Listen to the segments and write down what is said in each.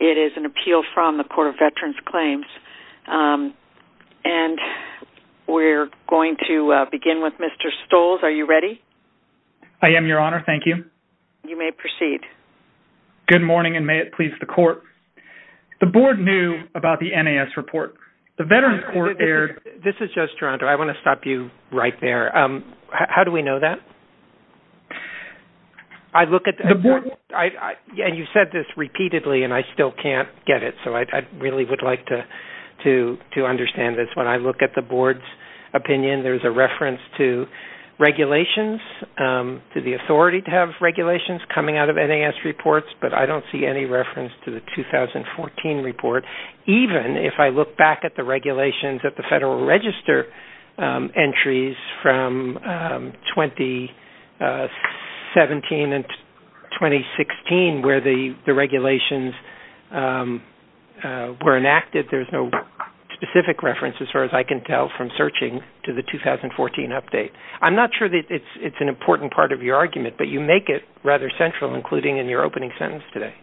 It is an appeal from the Court of Veterans Claims. And we're going to begin with Mr. Stolls. Are you ready? I am, Your Honor. Thank you. You may proceed. Good morning, and may it please the Court. The Board knew about the NAS report. The Veterans Court erred... This is Judge Toronto. I want to stop you right there. How do we know that? I look at... The Board... And you've said this repeatedly, and I still can't get it, so I really would like to understand this. When I look at the Board's opinion, there's a reference to regulations, to the authority to have regulations coming out of NAS reports, but I don't see any reference to the 2014 report, even if I look back at the regulations at the Federal Register entries from 2017 and 2016, where the regulations were enacted. There's no specific reference, as far as I can tell, from searching to the 2014 update. I'm not sure that it's an important part of your argument, but you make it rather central, including in your opening sentence today.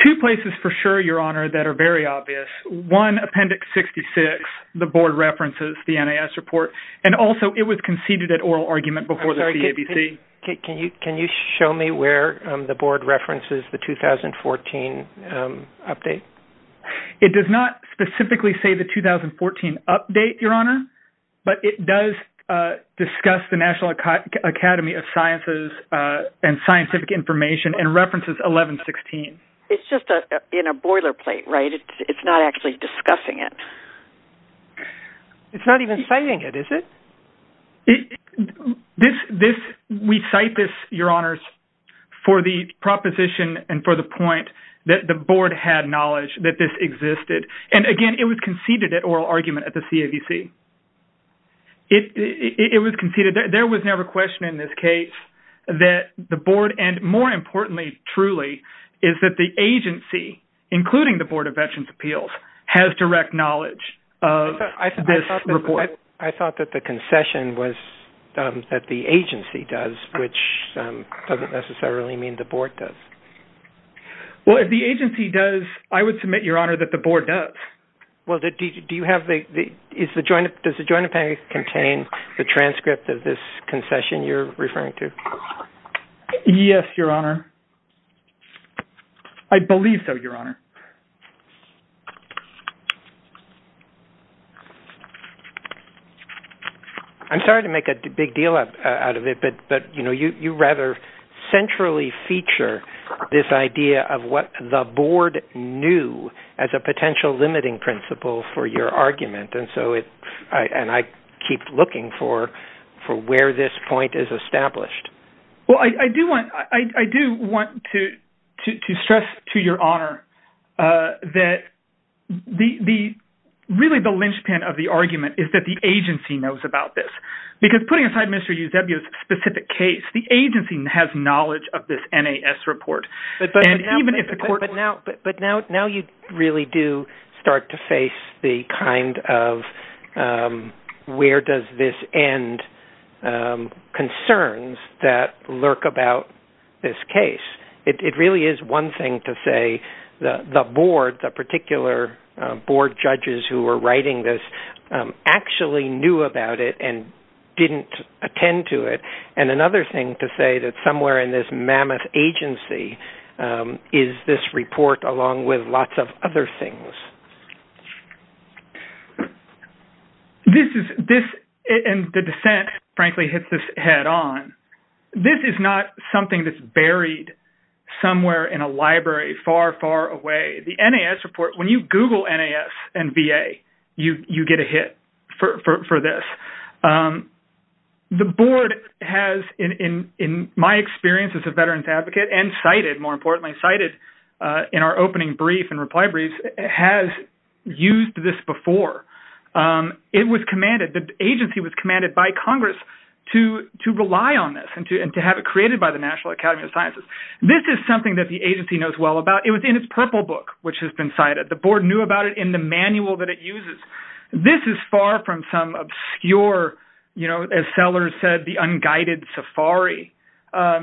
Two places for sure, Your Honor, that are very obvious. One, Appendix 66, the Board references the NAS report, and also it was conceded an oral argument before the CABC. Can you show me where the Board references the 2014 update? It does not specifically say the 2014 update, Your Honor, but it does discuss the National Academy of Sciences and Scientific Information and references 1116. It's just in a boilerplate, right? It's not actually discussing it. It's not even citing it, is it? We cite this, Your Honors, for the proposition and for the point that the Board had knowledge that this existed, and again, it was conceded at oral argument at the CABC. It was conceded. There was never a question in this case that the Board, and more importantly, truly, is that the agency, including the Board of Veterans' Appeals, has direct knowledge of this report. I thought that the concession was that the agency does, which doesn't necessarily mean the Board does. Well, if the agency does, I would submit, Your Honor, that the Board does. Well, does the Joint Appendix contain the transcript of this concession you're referring to? Yes, Your Honor. I believe so, Your Honor. I'm sorry to make a big deal out of it, but you rather centrally feature this idea of what the Board knew as a potential limiting principle for your argument, and I keep looking for where this point is established. Well, I do want to stress to Your Honor that really the linchpin of the argument is that the agency knows about this, because putting aside Mr. Eusebio's specific case, the agency has knowledge of this NAS report. But now you really do start to face the kind of where does this end concerns that lurk about this case. It really is one thing to say the Board, the particular Board judges who were writing this, actually knew about it and didn't attend to it, and another thing to say that somewhere in this mammoth agency is this report along with lots of other things. This is, and the dissent, frankly, hits this head on. This is not something that's buried somewhere in a library far, far away. The NAS report, when you Google NAS and VA, you get a hit for this. The Board has, in my experience as a veteran's advocate and cited, more importantly cited in our opening brief and reply briefs, has used this before. It was commanded, the agency was commanded by Congress to rely on this and to have it created by the National Academy of Sciences. This is something that the agency knows well about. It was in its purple book, which has been cited. The Board knew about it in the manual that it uses. This is far from some obscure, as Sellers said, the unguided safari.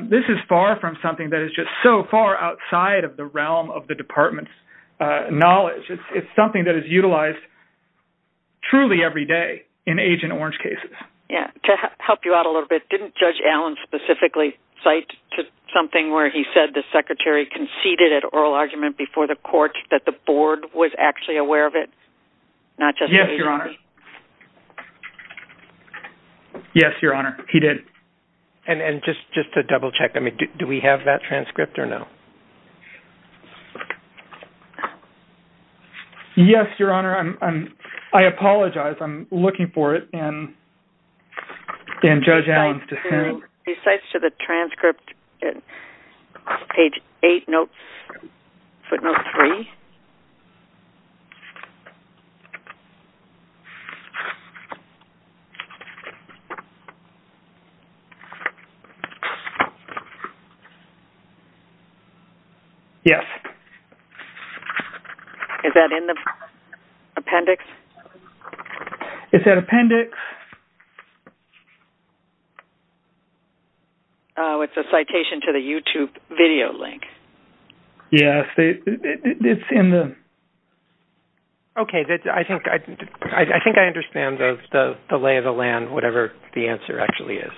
This is far from something that is just so far outside of the realm of the department's knowledge. It's something that is utilized truly every day in Agent Orange cases. Yeah. To help you out a little bit, didn't Judge Allen specifically cite something where he said the secretary conceded at oral argument before the court that the Board was actually aware of it? Not just the agency. Yes, Your Honor. Yes, Your Honor. He did. And just to double check, do we have that transcript or no? Yes, Your Honor. I apologize. I'm looking for it in Judge Allen's dissent. He cites to the transcript, page eight, footnote three. Yes. Is that in the appendix? It's a citation to the YouTube video link. Yes, it's in the... Okay. I think I understand the lay of the land, whatever the answer actually is.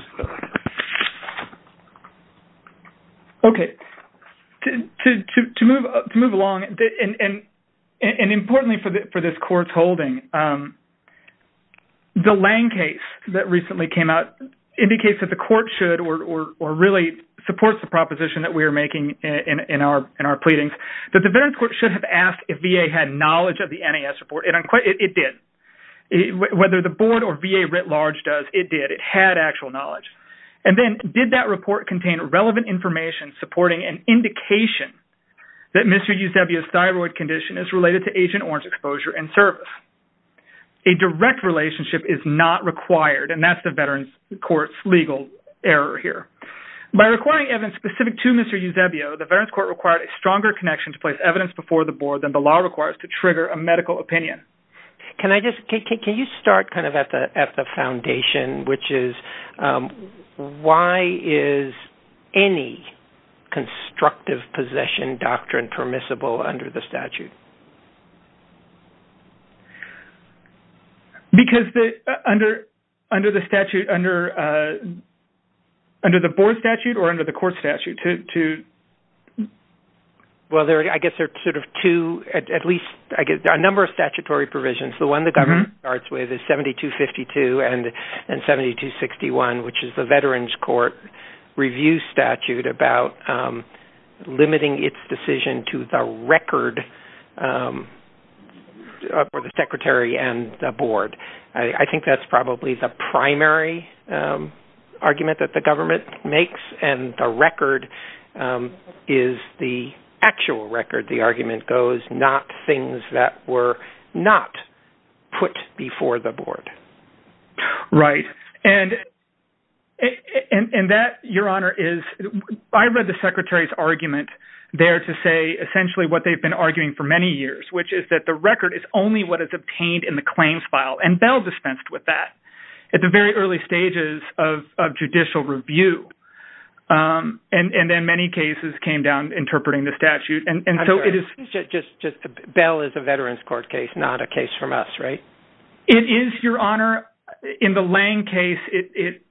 Okay. Okay. The Lange case that recently came out indicates that the court should or really supports the proposition that we are making in our pleadings that the Veterans Court should have asked if VA had knowledge of the NAS report. It did. Whether the Board or VA writ large does, it did. It had actual knowledge. And then did that report contain relevant information supporting an indication that Mr. A direct relationship is not required. And that's the Veterans Court's legal error here. By requiring evidence specific to Mr. Eusebio, the Veterans Court required a stronger connection to place evidence before the Board than the law requires to trigger a medical opinion. Can you start kind of at the foundation, which is why is any constructive possession doctrine permissible under the statute? Because under the statute, under the Board statute or under the court statute to... Well, I guess there are sort of two, at least a number of statutory provisions. The one the government starts with is 7252 and 7261, which is the Veterans Court review statute about limiting its decision to the record for the Secretary and the Board. I think that's probably the primary argument that the government makes. And the record is the actual record. The argument goes not things that were not put before the Board. Right. And that, Your Honor, is... I read the Secretary's argument there to say essentially what they've been arguing for many years, which is that the record is only what is obtained in the claims file. And Bell dispensed with that at the very early stages of judicial review. And then many cases came down interpreting the statute. And so it is... I'm sorry, just Bell is a Veterans Court case, not a case from us, right? It is, Your Honor. In the Lange case,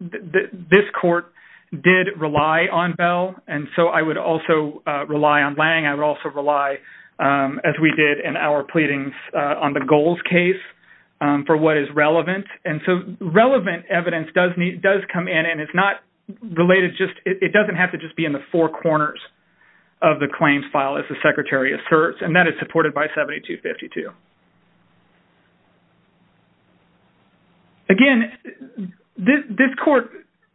this court did rely on Bell. And so I would also rely on Lange. I would also rely, as we did in our pleadings on the Goals case, for what is relevant. And so relevant evidence does come in. And it's not related just... It doesn't have to just be in the four corners of the claims file, as the Secretary asserts. And that is supported by 7252. Again, this court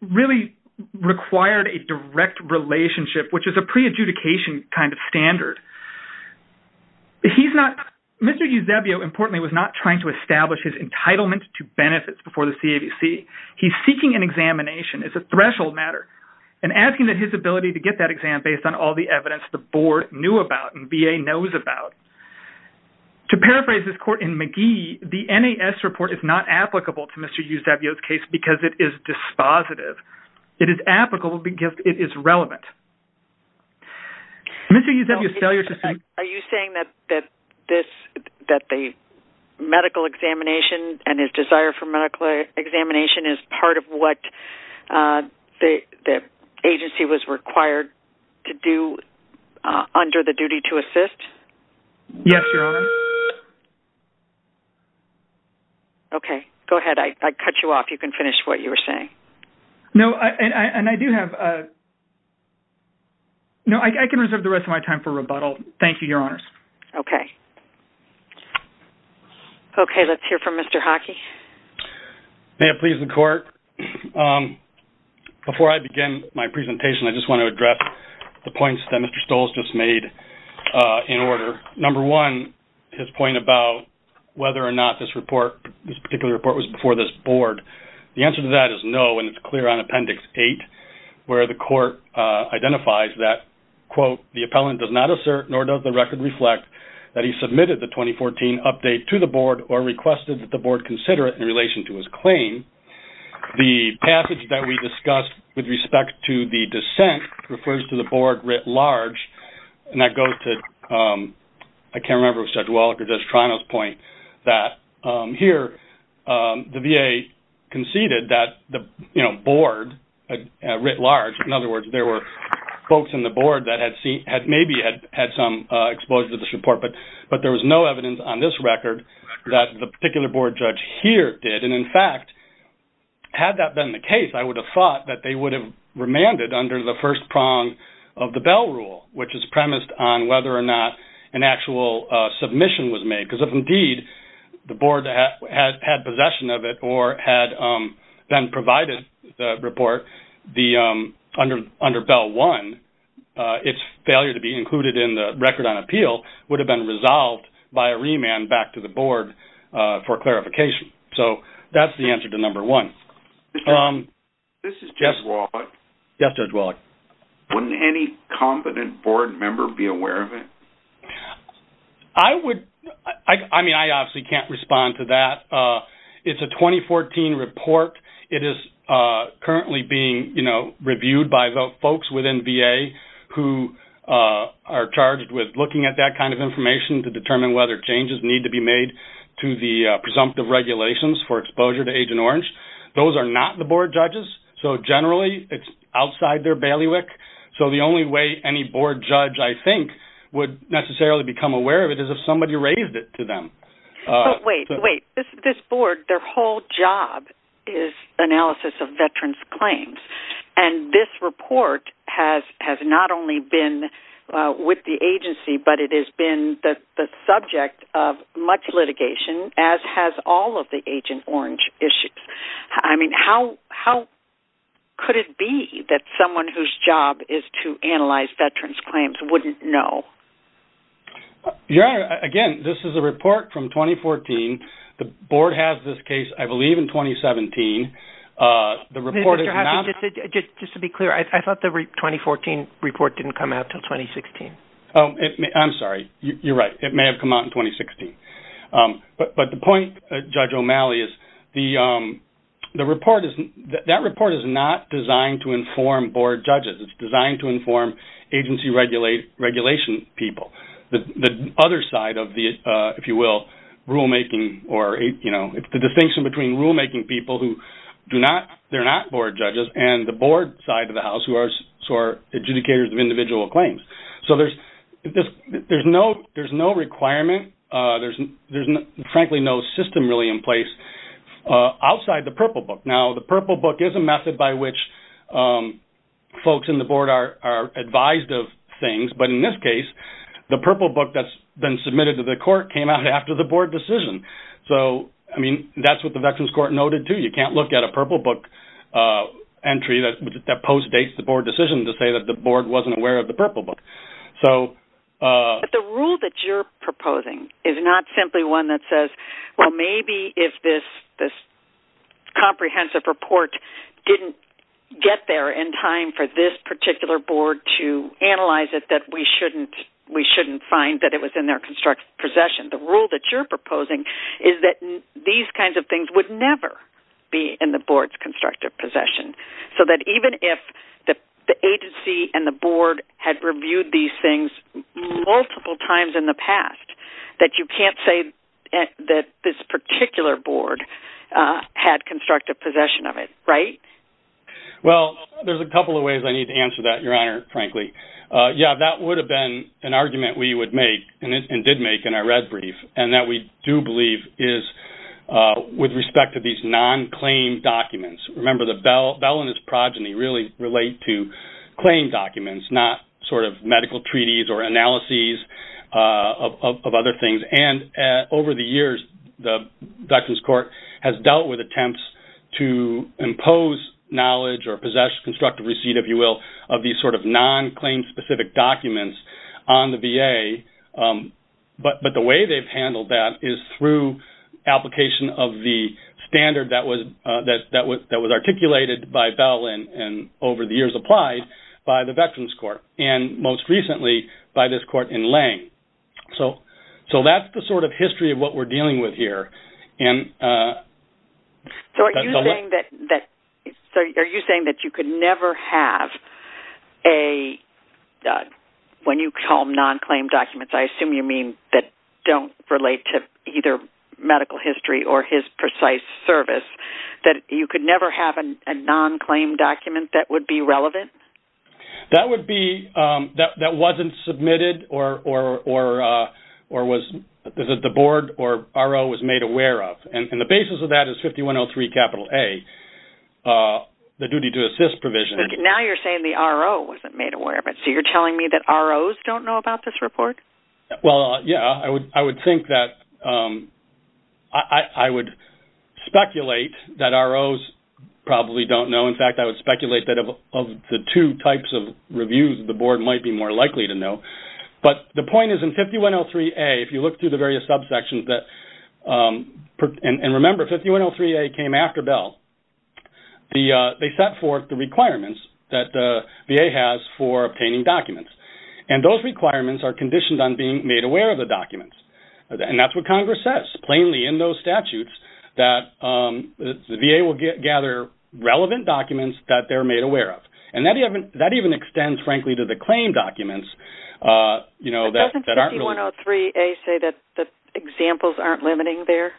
really required a direct relationship, which is a pre-adjudication kind of standard. He's not... Mr. Eusebio, importantly, was not trying to establish his entitlement to benefits before the CAVC. He's seeking an examination. It's a threshold matter. And asking that his ability to get that exam based on all the evidence the board knew about and VA knows about. To paraphrase this court in McGee, the NAS report is not applicable to Mr. Eusebio's case because it is dispositive. It is applicable because it is relevant. Mr. Eusebio's failure to... Are you saying that the medical examination and his desire for medical examination is part of what the agency was required to do under the duty to assist? Yes, Your Honor. Okay. Go ahead. I cut you off. You can finish what you were saying. No, and I do have a... No, I can reserve the rest of my time for rebuttal. Thank you, Your Honors. Okay. Okay, let's hear from Mr. Hockey. May it please the court. Before I begin my presentation, I just want to address the points that Mr. Stolz just made in order. Number one, his point about whether or not this particular report was before this board. The answer to that is no, and it's clear on Appendix 8 where the court identifies that, quote, the appellant does not assert nor does the record reflect that he submitted the 2014 update to the board or requested that the board consider it in relation to his claim. The passage that we discussed with respect to the dissent refers to the board writ large and that goes to... I can't remember if it was Judge Wallach or Judge Trano's point that here the VA conceded that the board, writ large, in other words, there were folks in the board that had maybe had some exposure to this report, but there was no evidence on this record that the particular board judge here did. And in fact, had that been the case, I would have thought that they would have remanded under the first prong of the Bell Rule, which is premised on whether or not an actual submission was made, because if indeed the board had possession of it or had then provided the report under Bell I, its failure to be included in the record on appeal would have been resolved by a remand back to the board for clarification. So that's the answer to number one. This is Judge Wallach. Yes, Judge Wallach. Wouldn't any competent board member be aware of it? I would... I mean, I obviously can't respond to that. It's a 2014 report. It is currently being reviewed by folks within VA who are charged with looking at that kind of information to determine whether changes need to be made to the presumptive regulations for exposure to Agent Orange. Those are not the board judges. So generally, it's outside their bailiwick. So the only way any board judge, I think, would necessarily become aware of it is if somebody raised it to them. But wait, wait. This board, their whole job is analysis of veterans' claims. And this report has not only been with the agency, but it has been the subject of much litigation, as has all of the Agent Orange issues. I mean, how could it be that someone whose job is to analyze veterans' claims wouldn't know? Your Honor, again, this is a report from 2014. The board has this case, I believe, in 2017. The report is not... Mr. Hafford, just to be clear, I thought the 2014 report didn't come out until 2016. Oh, I'm sorry. You're right. It may have come out in 2016. But the point, Judge O'Malley, is that report is not designed to inform board judges. It's designed to inform agency regulation people. The other side of the, if you will, rulemaking or, you know, it's the distinction between rulemaking people who do not... They're not board judges and the board side of the House who are adjudicators of individual claims. So there's no requirement, there's frankly no system really in place outside the Purple Book. Now, the Purple Book is a method by which folks in the board are advised of things. But in this case, the Purple Book that's been submitted to the court came out after the board decision. So, I mean, that's what the Veterans Court noted too. You can't look at a Purple Book entry that postdates the board decision to say that the So... But the rule that you're proposing is not simply one that says, well, maybe if this comprehensive report didn't get there in time for this particular board to analyze it, that we shouldn't find that it was in their possession. The rule that you're proposing is that these kinds of things would never be in the board's constructive possession. So that even if the agency and the board had reviewed these things multiple times in the past, that you can't say that this particular board had constructive possession of it, right? Well, there's a couple of ways I need to answer that, Your Honor, frankly. Yeah, that would have been an argument we would make and did make in our red brief and that we do believe is with respect to these non-claim documents. Remember, the Bell and his progeny really relate to claim documents, not sort of medical treaties or analyses of other things. And over the years, the Veterans Court has dealt with attempts to impose knowledge or possess constructive receipt, if you will, of these sort of non-claim specific documents on the VA. But the way they've handled that is through application of the standard that was articulated by Bell and over the years applied by the Veterans Court and most recently by this court in Lange. So that's the sort of history of what we're dealing with here. And... So are you saying that you could never have a, when you call them non-claim documents, I assume you mean that don't relate to either medical history or his precise service, that you could never have a non-claim document that would be relevant? That would be that wasn't submitted or was the board or RO was made aware of. And the basis of that is 5103 capital A, the duty to assist provision. Now you're saying the RO wasn't made aware of it. So you're telling me that ROs don't know about this report? Well, yeah, I would think that I would speculate that ROs probably don't know. In fact, I would speculate that of the two types of reviews, the board might be more likely to know. But the point is in 5103A, if you look through the various subsections that and remember 5103A came after Bell, they set forth the requirements that the VA has for obtaining documents. And those requirements are conditioned on being made aware of the documents. And that's what Congress says, plainly in those statutes that the VA will gather relevant documents that they're made aware of. And that even extends, frankly, to the claim documents, you know, that... Doesn't 5103A say that the examples aren't limiting there?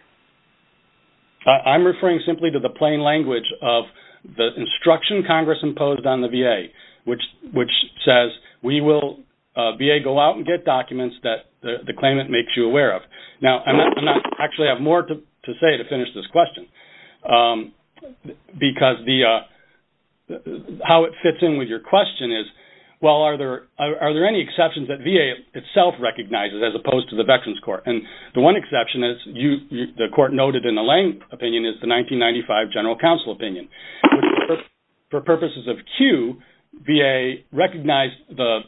I'm referring simply to the plain language of the instruction Congress imposed on the VA, which says, we will... VA go out and get documents that the claimant makes you aware of. Now, I'm not... Actually, I have more to say to finish this question. Because the... How it fits in with your question is, well, are there any exceptions that VA itself recognizes as opposed to the Veterans Court? And the one exception is you... The court noted in the Lane opinion is the 1995 General Counsel opinion. For purposes of Q, VA recognized the...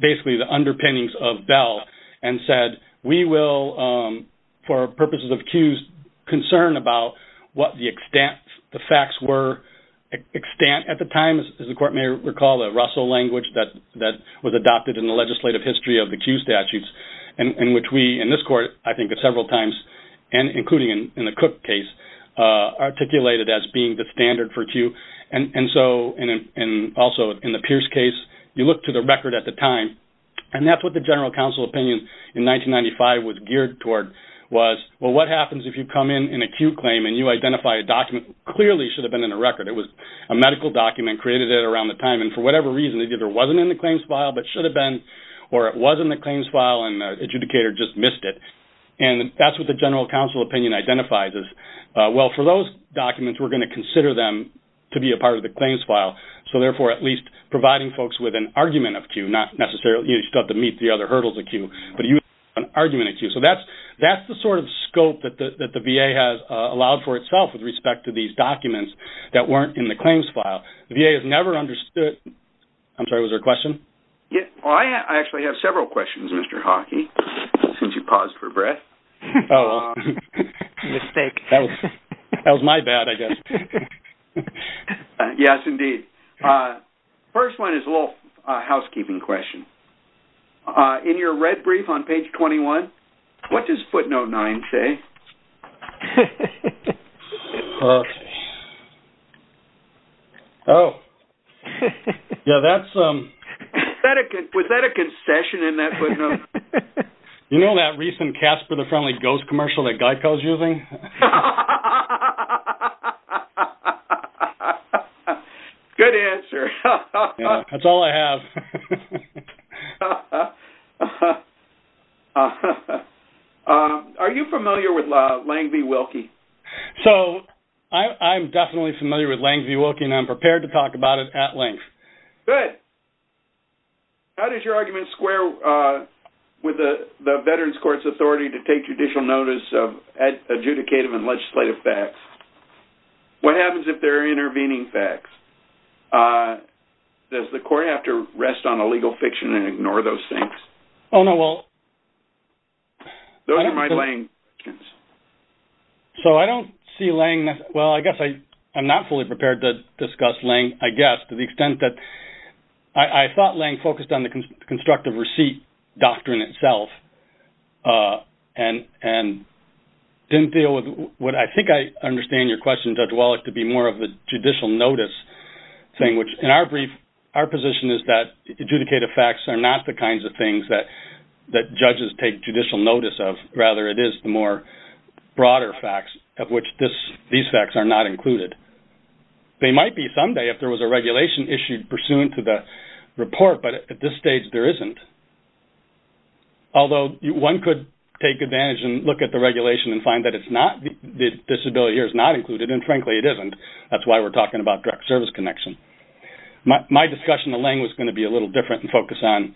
Basically, the underpinnings of Bell and said, we will, for purposes of Q's concern about what the extent... The facts were extent at the time, as the court may recall that Russell language that was adopted in the legislative history of the Q statutes, in which we, in this court, I think it's several times, and including in the Cook case, articulated as being the standard for Q. And so, and also in the Pierce case, you look to the record at the time, and that's what the General Counsel opinion in 1995 was geared toward, was, well, what happens if you come in an acute claim and you identify a document clearly should have been in a record? It was a medical document, created it around the time, and for whatever reason, it either wasn't in the claims file, but should have been, or it was in the claims file, and the adjudicator just missed it. And that's what the General Counsel opinion identifies as, well, for those documents, we're going to consider them to be a part of the claims file. So, therefore, at least providing folks with an argument of Q, not necessarily, you just have to meet the other hurdles of Q, but an argument of Q. So, that's the sort of scope that the VA has allowed for itself with respect to these documents that weren't in the claims file. The VA has never understood... I'm sorry, was there a question? Yes. Well, I actually have several questions, Mr. Hockey, since you paused for breath. Oh, mistake. That was my bad, I guess. Yes, indeed. First one is a little housekeeping question. In your red brief on page 21, what does footnote 9 say? Okay. Oh, yeah, that's... Was that a concession in that footnote? You know that recent Casper the Friendly Ghost commercial that GEICO is using? Good answer. That's all I have. Okay. Are you familiar with Lang v. Wilkie? So, I'm definitely familiar with Lang v. Wilkie, and I'm prepared to talk about it at length. Good. How does your argument square with the Veterans Court's authority to take judicial notice of adjudicative and legislative facts? What happens if there are intervening facts? Does the court have to rest on a legal fiction and ignore those things? Oh, no, well... Those are my Lang questions. So, I don't see Lang... Well, I guess I'm not fully prepared to discuss Lang, I guess, to the extent that I thought Lang focused on the constructive receipt doctrine itself and didn't deal with what I think I understand your question, Judge Wallach, to be more of a judicial notice thing, which in our brief, our position is that adjudicative facts are not the kinds of things that judges take judicial notice of. Rather, it is the more broader facts of which these facts are not included. They might be someday if there was a regulation issued pursuant to the report, but at this stage, there isn't. Although, one could take advantage and look at the regulation and find that it's not, the disability here is not included, and frankly, it isn't. That's why we're talking about direct service connection. My discussion of Lang was going to be a little different and focus on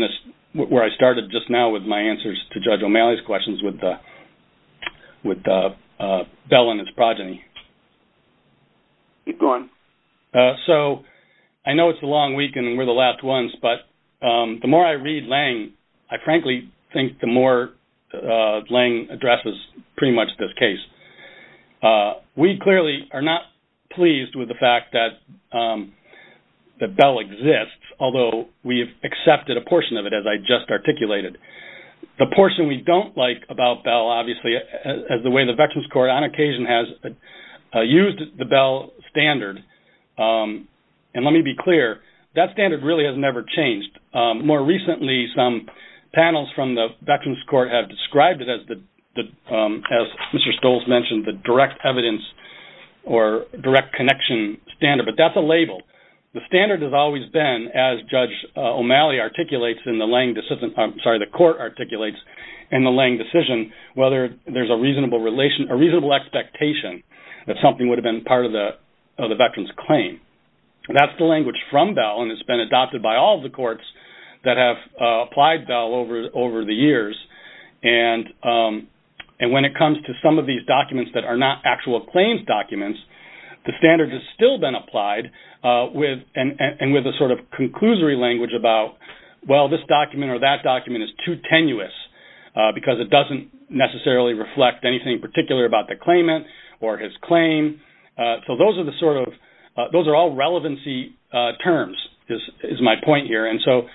this, where I started just now with my answers to Judge O'Malley's questions with Bell and his progeny. Keep going. So, I know it's a long week and we're the last ones, but the more I read Lang, I frankly think the more Lang addresses pretty much this case. We clearly are not pleased with the fact that Bell exists, although we have accepted a portion of it as I just articulated. The portion we don't like about Bell, obviously, as the way the Veterans Court on occasion has used the Bell standard, and let me be clear, that standard really has never changed. More recently, some panels from the Veterans Court have described it as Mr. Stoltz mentioned, the direct evidence or direct connection standard, but that's a label. The standard has always been, as Judge O'Malley articulates in the Lang decision, I'm sorry, the court articulates in the Lang decision, whether there's a reasonable expectation that something would have been part of the Veterans Claim. That's the language from Bell and it's been adopted by all the courts that have applied Bell over the years. And when it comes to some of these documents that are not actual claims documents, the standard has still been applied and with a sort of conclusory language about, well, this document or that document is too tenuous because it doesn't necessarily reflect anything particular about the claimant or his claim. So those are the sort of, those are all relevancy terms, is my point here. And so,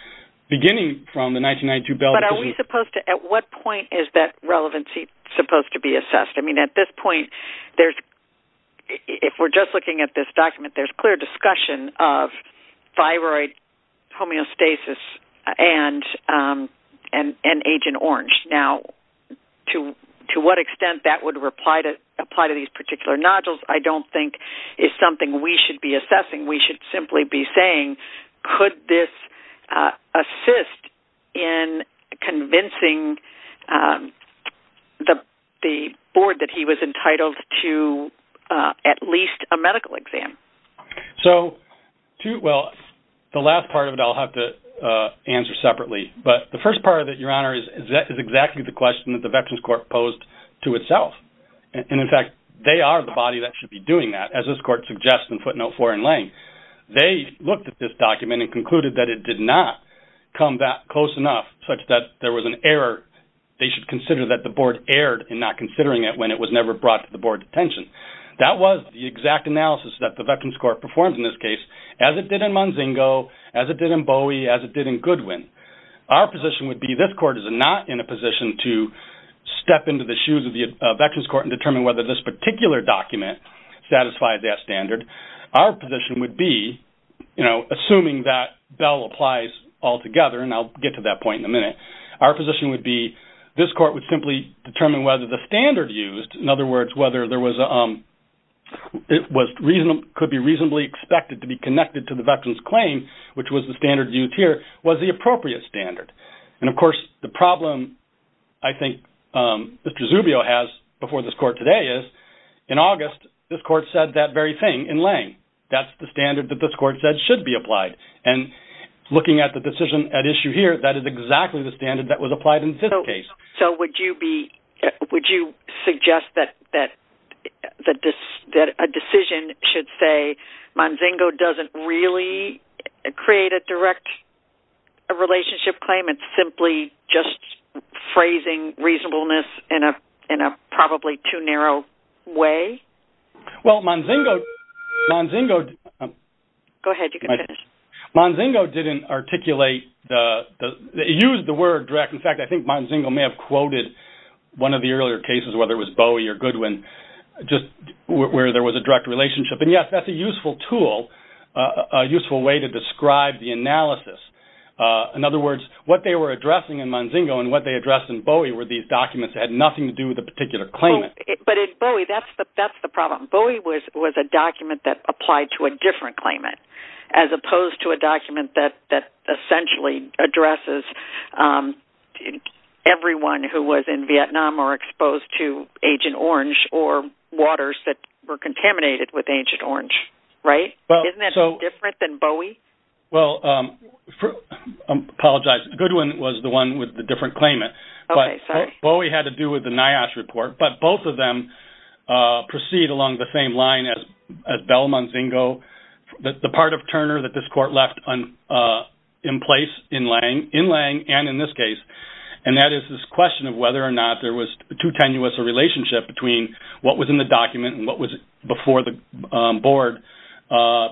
beginning from the 1992 Bell- But are we supposed to, at what point is that relevancy supposed to be assessed? I mean, at this point, there's, if we're just looking at this document, there's clear discussion of thyroid homeostasis and Agent Orange. Now, to what extent that would apply to these particular nodules, I don't think is something we should be assessing. We should simply be saying, could this assist in convincing the board that he was entitled to at least a medical exam? So, well, the last part of it, I'll have to answer separately. But the first part of it, Your Honor, is exactly the question that the Veterans Court posed to itself. And in fact, they are the body that should be doing that, as this court suggests in footnote four in Lange. They looked at this document and concluded that it did not come that close enough such that there was an error. They should consider that the board erred in not considering it when it was never brought to the board's attention. That was the exact analysis that the Veterans Court performed in this case, as it did in Munzingo, as it did in Bowie, as it did in Goodwin. Our position would be this court is not in a position to step into the shoes of the Veterans Court and determine whether this particular document satisfied that standard. Our position would be, you know, assuming that Bell applies altogether, and I'll get to that point in a minute. Our position would be this court would simply determine whether the standard used, in other words, whether it could be reasonably expected to be connected to the Veterans Claim, which was the standard used here, was the appropriate standard. And of course, the problem I think Mr. Zubio has before this court today is, in August, this court said that very thing in Lange. That's the standard that this court said should be applied. And looking at the decision at issue here, that is exactly the standard that was applied in this case. So would you suggest that a decision should say Munzingo doesn't really create a direct relationship claim? It's simply just phrasing reasonableness in a probably too narrow way? Well, Munzingo... Go ahead, you can finish. Munzingo didn't articulate...used the word direct. In fact, I think Munzingo may have quoted one of the earlier cases, whether it was Bowie or Goodwin, just where there was a direct relationship. And yes, that's a useful tool, a useful way to describe the analysis. In other words, what they were addressing in Munzingo and what they addressed in Bowie were these documents that had nothing to do with the particular claimant. But in Bowie, that's the problem. Bowie was a document that applied to a different claimant as opposed to a document that essentially addresses everyone who was in Vietnam or exposed to Agent Orange or waters that were contaminated with Agent Orange, right? Isn't that different than Bowie? Well, I apologize. Goodwin was the one with the different claimant, but Bowie had to do with the NIOSH report. But both of them proceed along the same line as Bell, Munzingo. The part of Turner that this court left in place in Lange and in this case, and that is this question of whether or not there was too tenuous a relationship between what was in the document and what was before the board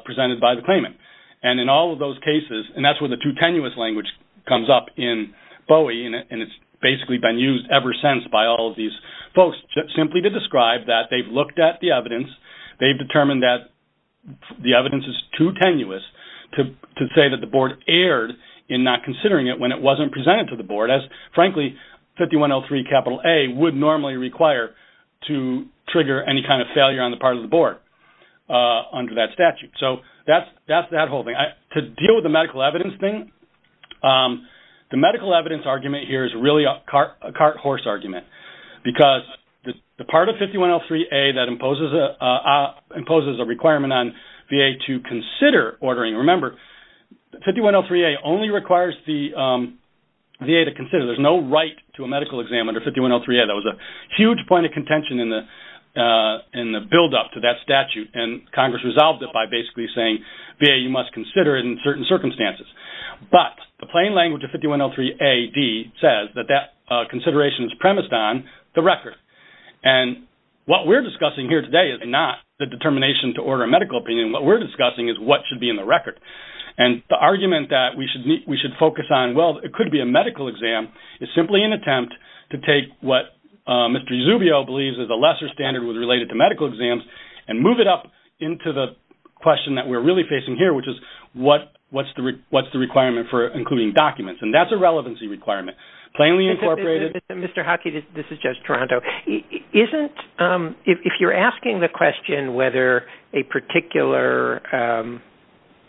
presented by the claimant. And in all of those cases, and that's where the too tenuous language comes up in Bowie, and it's basically been used ever since by all of these folks, simply to describe that they've looked at the evidence, they've determined that the evidence is too tenuous to say that the board erred in not considering it when it wasn't presented to the board, as frankly, 5103 A would normally require to trigger any kind of failure on the part of the board under that statute. So that's that whole thing. To deal with the medical evidence thing, the medical evidence argument here is really a cart horse argument, because the part of 5103 A that imposes a requirement on VA to consider ordering, remember, 5103 A only requires the VA to consider. There's no right to a medical exam under 5103 A. That was a huge point of contention in the buildup to that statute, and Congress resolved it by basically saying, VA, you must consider it in certain circumstances. But the plain language of 5103 A.D. says that that consideration is premised on the record. And what we're discussing here today is not the determination to order a medical opinion. What we're discussing is what should be in the record. And the argument that we should focus on, well, it could be a medical exam, is simply an attempt to take what Mr. Uzubio believes is a lesser standard with related to medical exams, and move it up into the question that we're really facing here, which is, what's the requirement for including documents? And that's a relevancy requirement. Plainly incorporated. Mr. Hockey, this is Judge Toronto. If you're asking the question whether a particular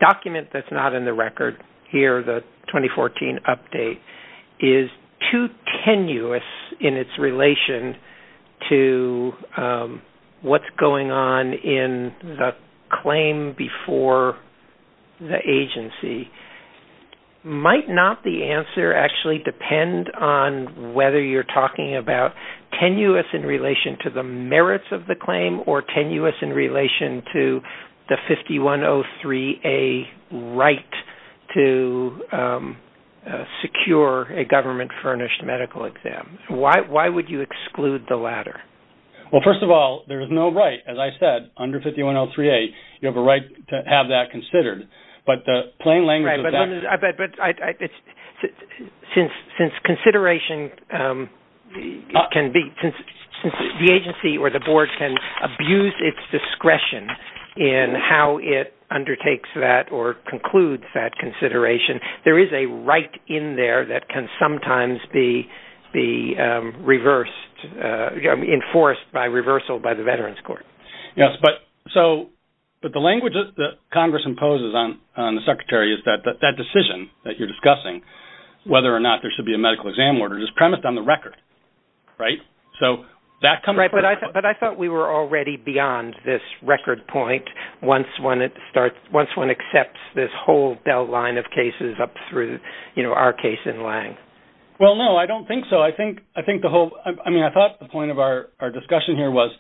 document that's not in the record here, the claim before the agency, might not the answer actually depend on whether you're talking about tenuous in relation to the merits of the claim, or tenuous in relation to the 5103 A.D. right to secure a government-furnished medical exam? Why would you exclude the latter? Well, first of all, there is no right, as I said, under 5103 A.D. You have a right to have that considered. But the plain language of that- Right, but since consideration can be-since the agency or the board can abuse its discretion in how it undertakes that or concludes that consideration, there is a right in there that can sometimes be reversed-enforced by reversal by the Veterans Court. Yes, but the language that Congress imposes on the Secretary is that that decision that you're discussing, whether or not there should be a medical exam order, is premised on the record. Right? So that comes- Right, but I thought we were already beyond this record point once one accepts this whole line of cases up through our case in Lange. Well, no, I don't think so. I think the whole-I mean, I thought the point of our discussion here was,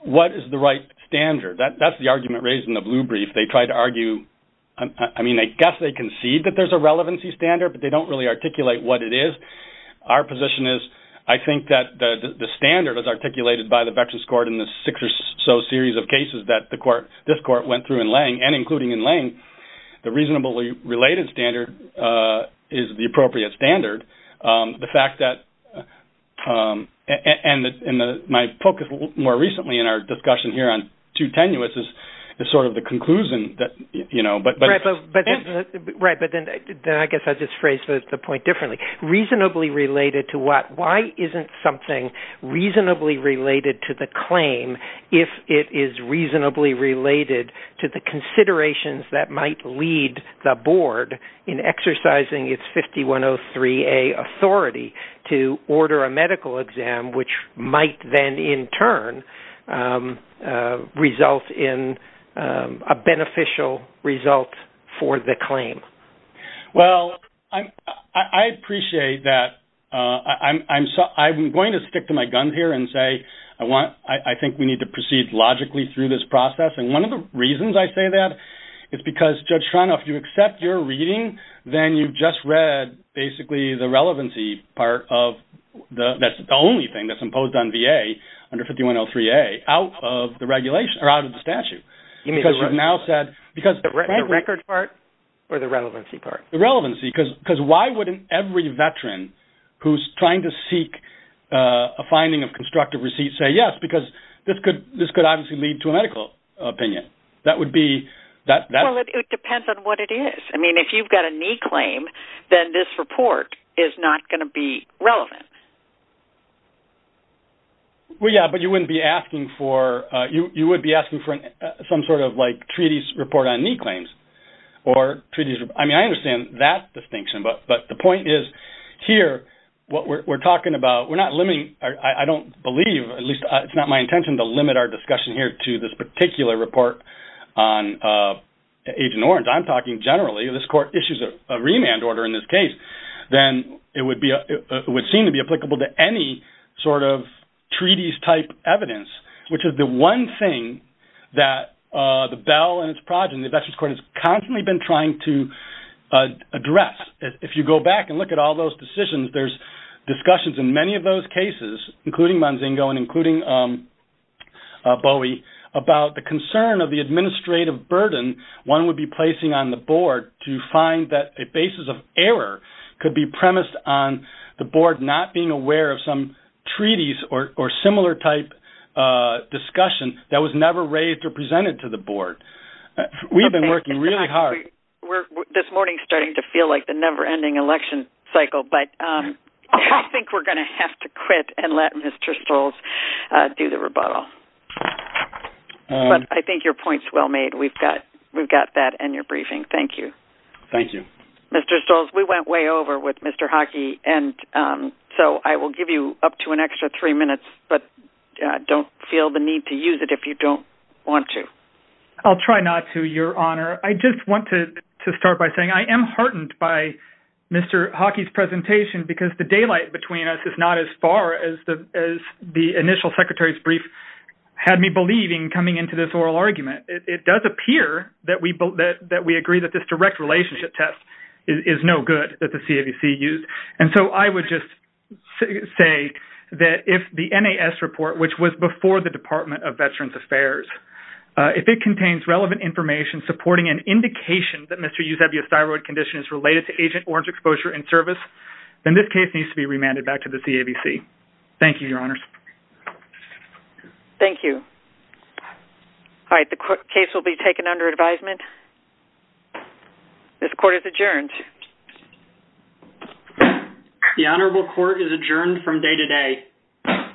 what is the right standard? That's the argument raised in the blue brief. They tried to argue-I mean, I guess they concede that there's a relevancy standard, but they don't really articulate what it is. Our position is, I think that the standard is articulated by the Veterans Court in the six or so series of cases that this court went through in Lange, and including in Lange, the reasonably related standard is the appropriate standard. The fact that-and my focus more recently in our discussion here on too tenuous is sort of the conclusion that, you know- Right, but then I guess I just phrased the point differently. Reasonably related to what? Why isn't something reasonably related to the claim if it is reasonably related to the considerations that might lead the board in exercising its 5103A authority to order a medical exam, which might then, in turn, result in a beneficial result for the claim? Well, I appreciate that. I'm going to stick to my gun here and say I think we need to proceed logically through this process, and one of the reasons I say that is because, Judge Schreiner, if you accept your reading, then you've just read basically the relevancy part of the-that's the only thing that's imposed on VA under 5103A out of the regulation-or out of the statute. Because you've now said- The record part or the relevancy part? The relevancy, because why wouldn't every veteran who's trying to seek a finding of medical opinion? That would be- Well, it depends on what it is. I mean, if you've got a knee claim, then this report is not going to be relevant. Well, yeah, but you wouldn't be asking for-you would be asking for some sort of, like, treaties report on knee claims or treaties-I mean, I understand that distinction, but the point is, here, what we're talking about-we're not limiting-I don't believe, at least it's not my intention to limit our discussion here to this particular report on Agent Orange. I'm talking generally. If this court issues a remand order in this case, then it would be-it would seem to be applicable to any sort of treaties-type evidence, which is the one thing that the Bell and its progeny, the Veterans Court, has constantly been trying to address. If you go back and look at all those decisions, there's discussions in many of those cases, including Manzingo and including Bowie, about the concern of the administrative burden one would be placing on the board to find that a basis of error could be premised on the board not being aware of some treaties or similar-type discussion that was never raised or presented to the board. We've been working really hard. We're, this morning, starting to feel like the never-ending election cycle, but I think we're going to have to quit and let Mr. Stolz do the rebuttal. But I think your point's well made. We've got that in your briefing. Thank you. Thank you. Mr. Stolz, we went way over with Mr. Hockey, and so I will give you up to an extra three minutes, but don't feel the need to use it if you don't want to. I'll try not to, Your Honor. I just want to start by saying I am heartened by Mr. Hockey's presentation because the CMS is not as far as the initial secretary's brief had me believing coming into this oral argument. It does appear that we agree that this direct relationship test is no good that the CAVC used, and so I would just say that if the NAS report, which was before the Department of Veterans Affairs, if it contains relevant information supporting an indication that Mr. Eusebio's thyroid condition is related to Agent Orange exposure and service, then this case needs to be remanded back to the CAVC. Thank you, Your Honors. Thank you. All right, the case will be taken under advisement. This court is adjourned. The Honorable Court is adjourned from day to day.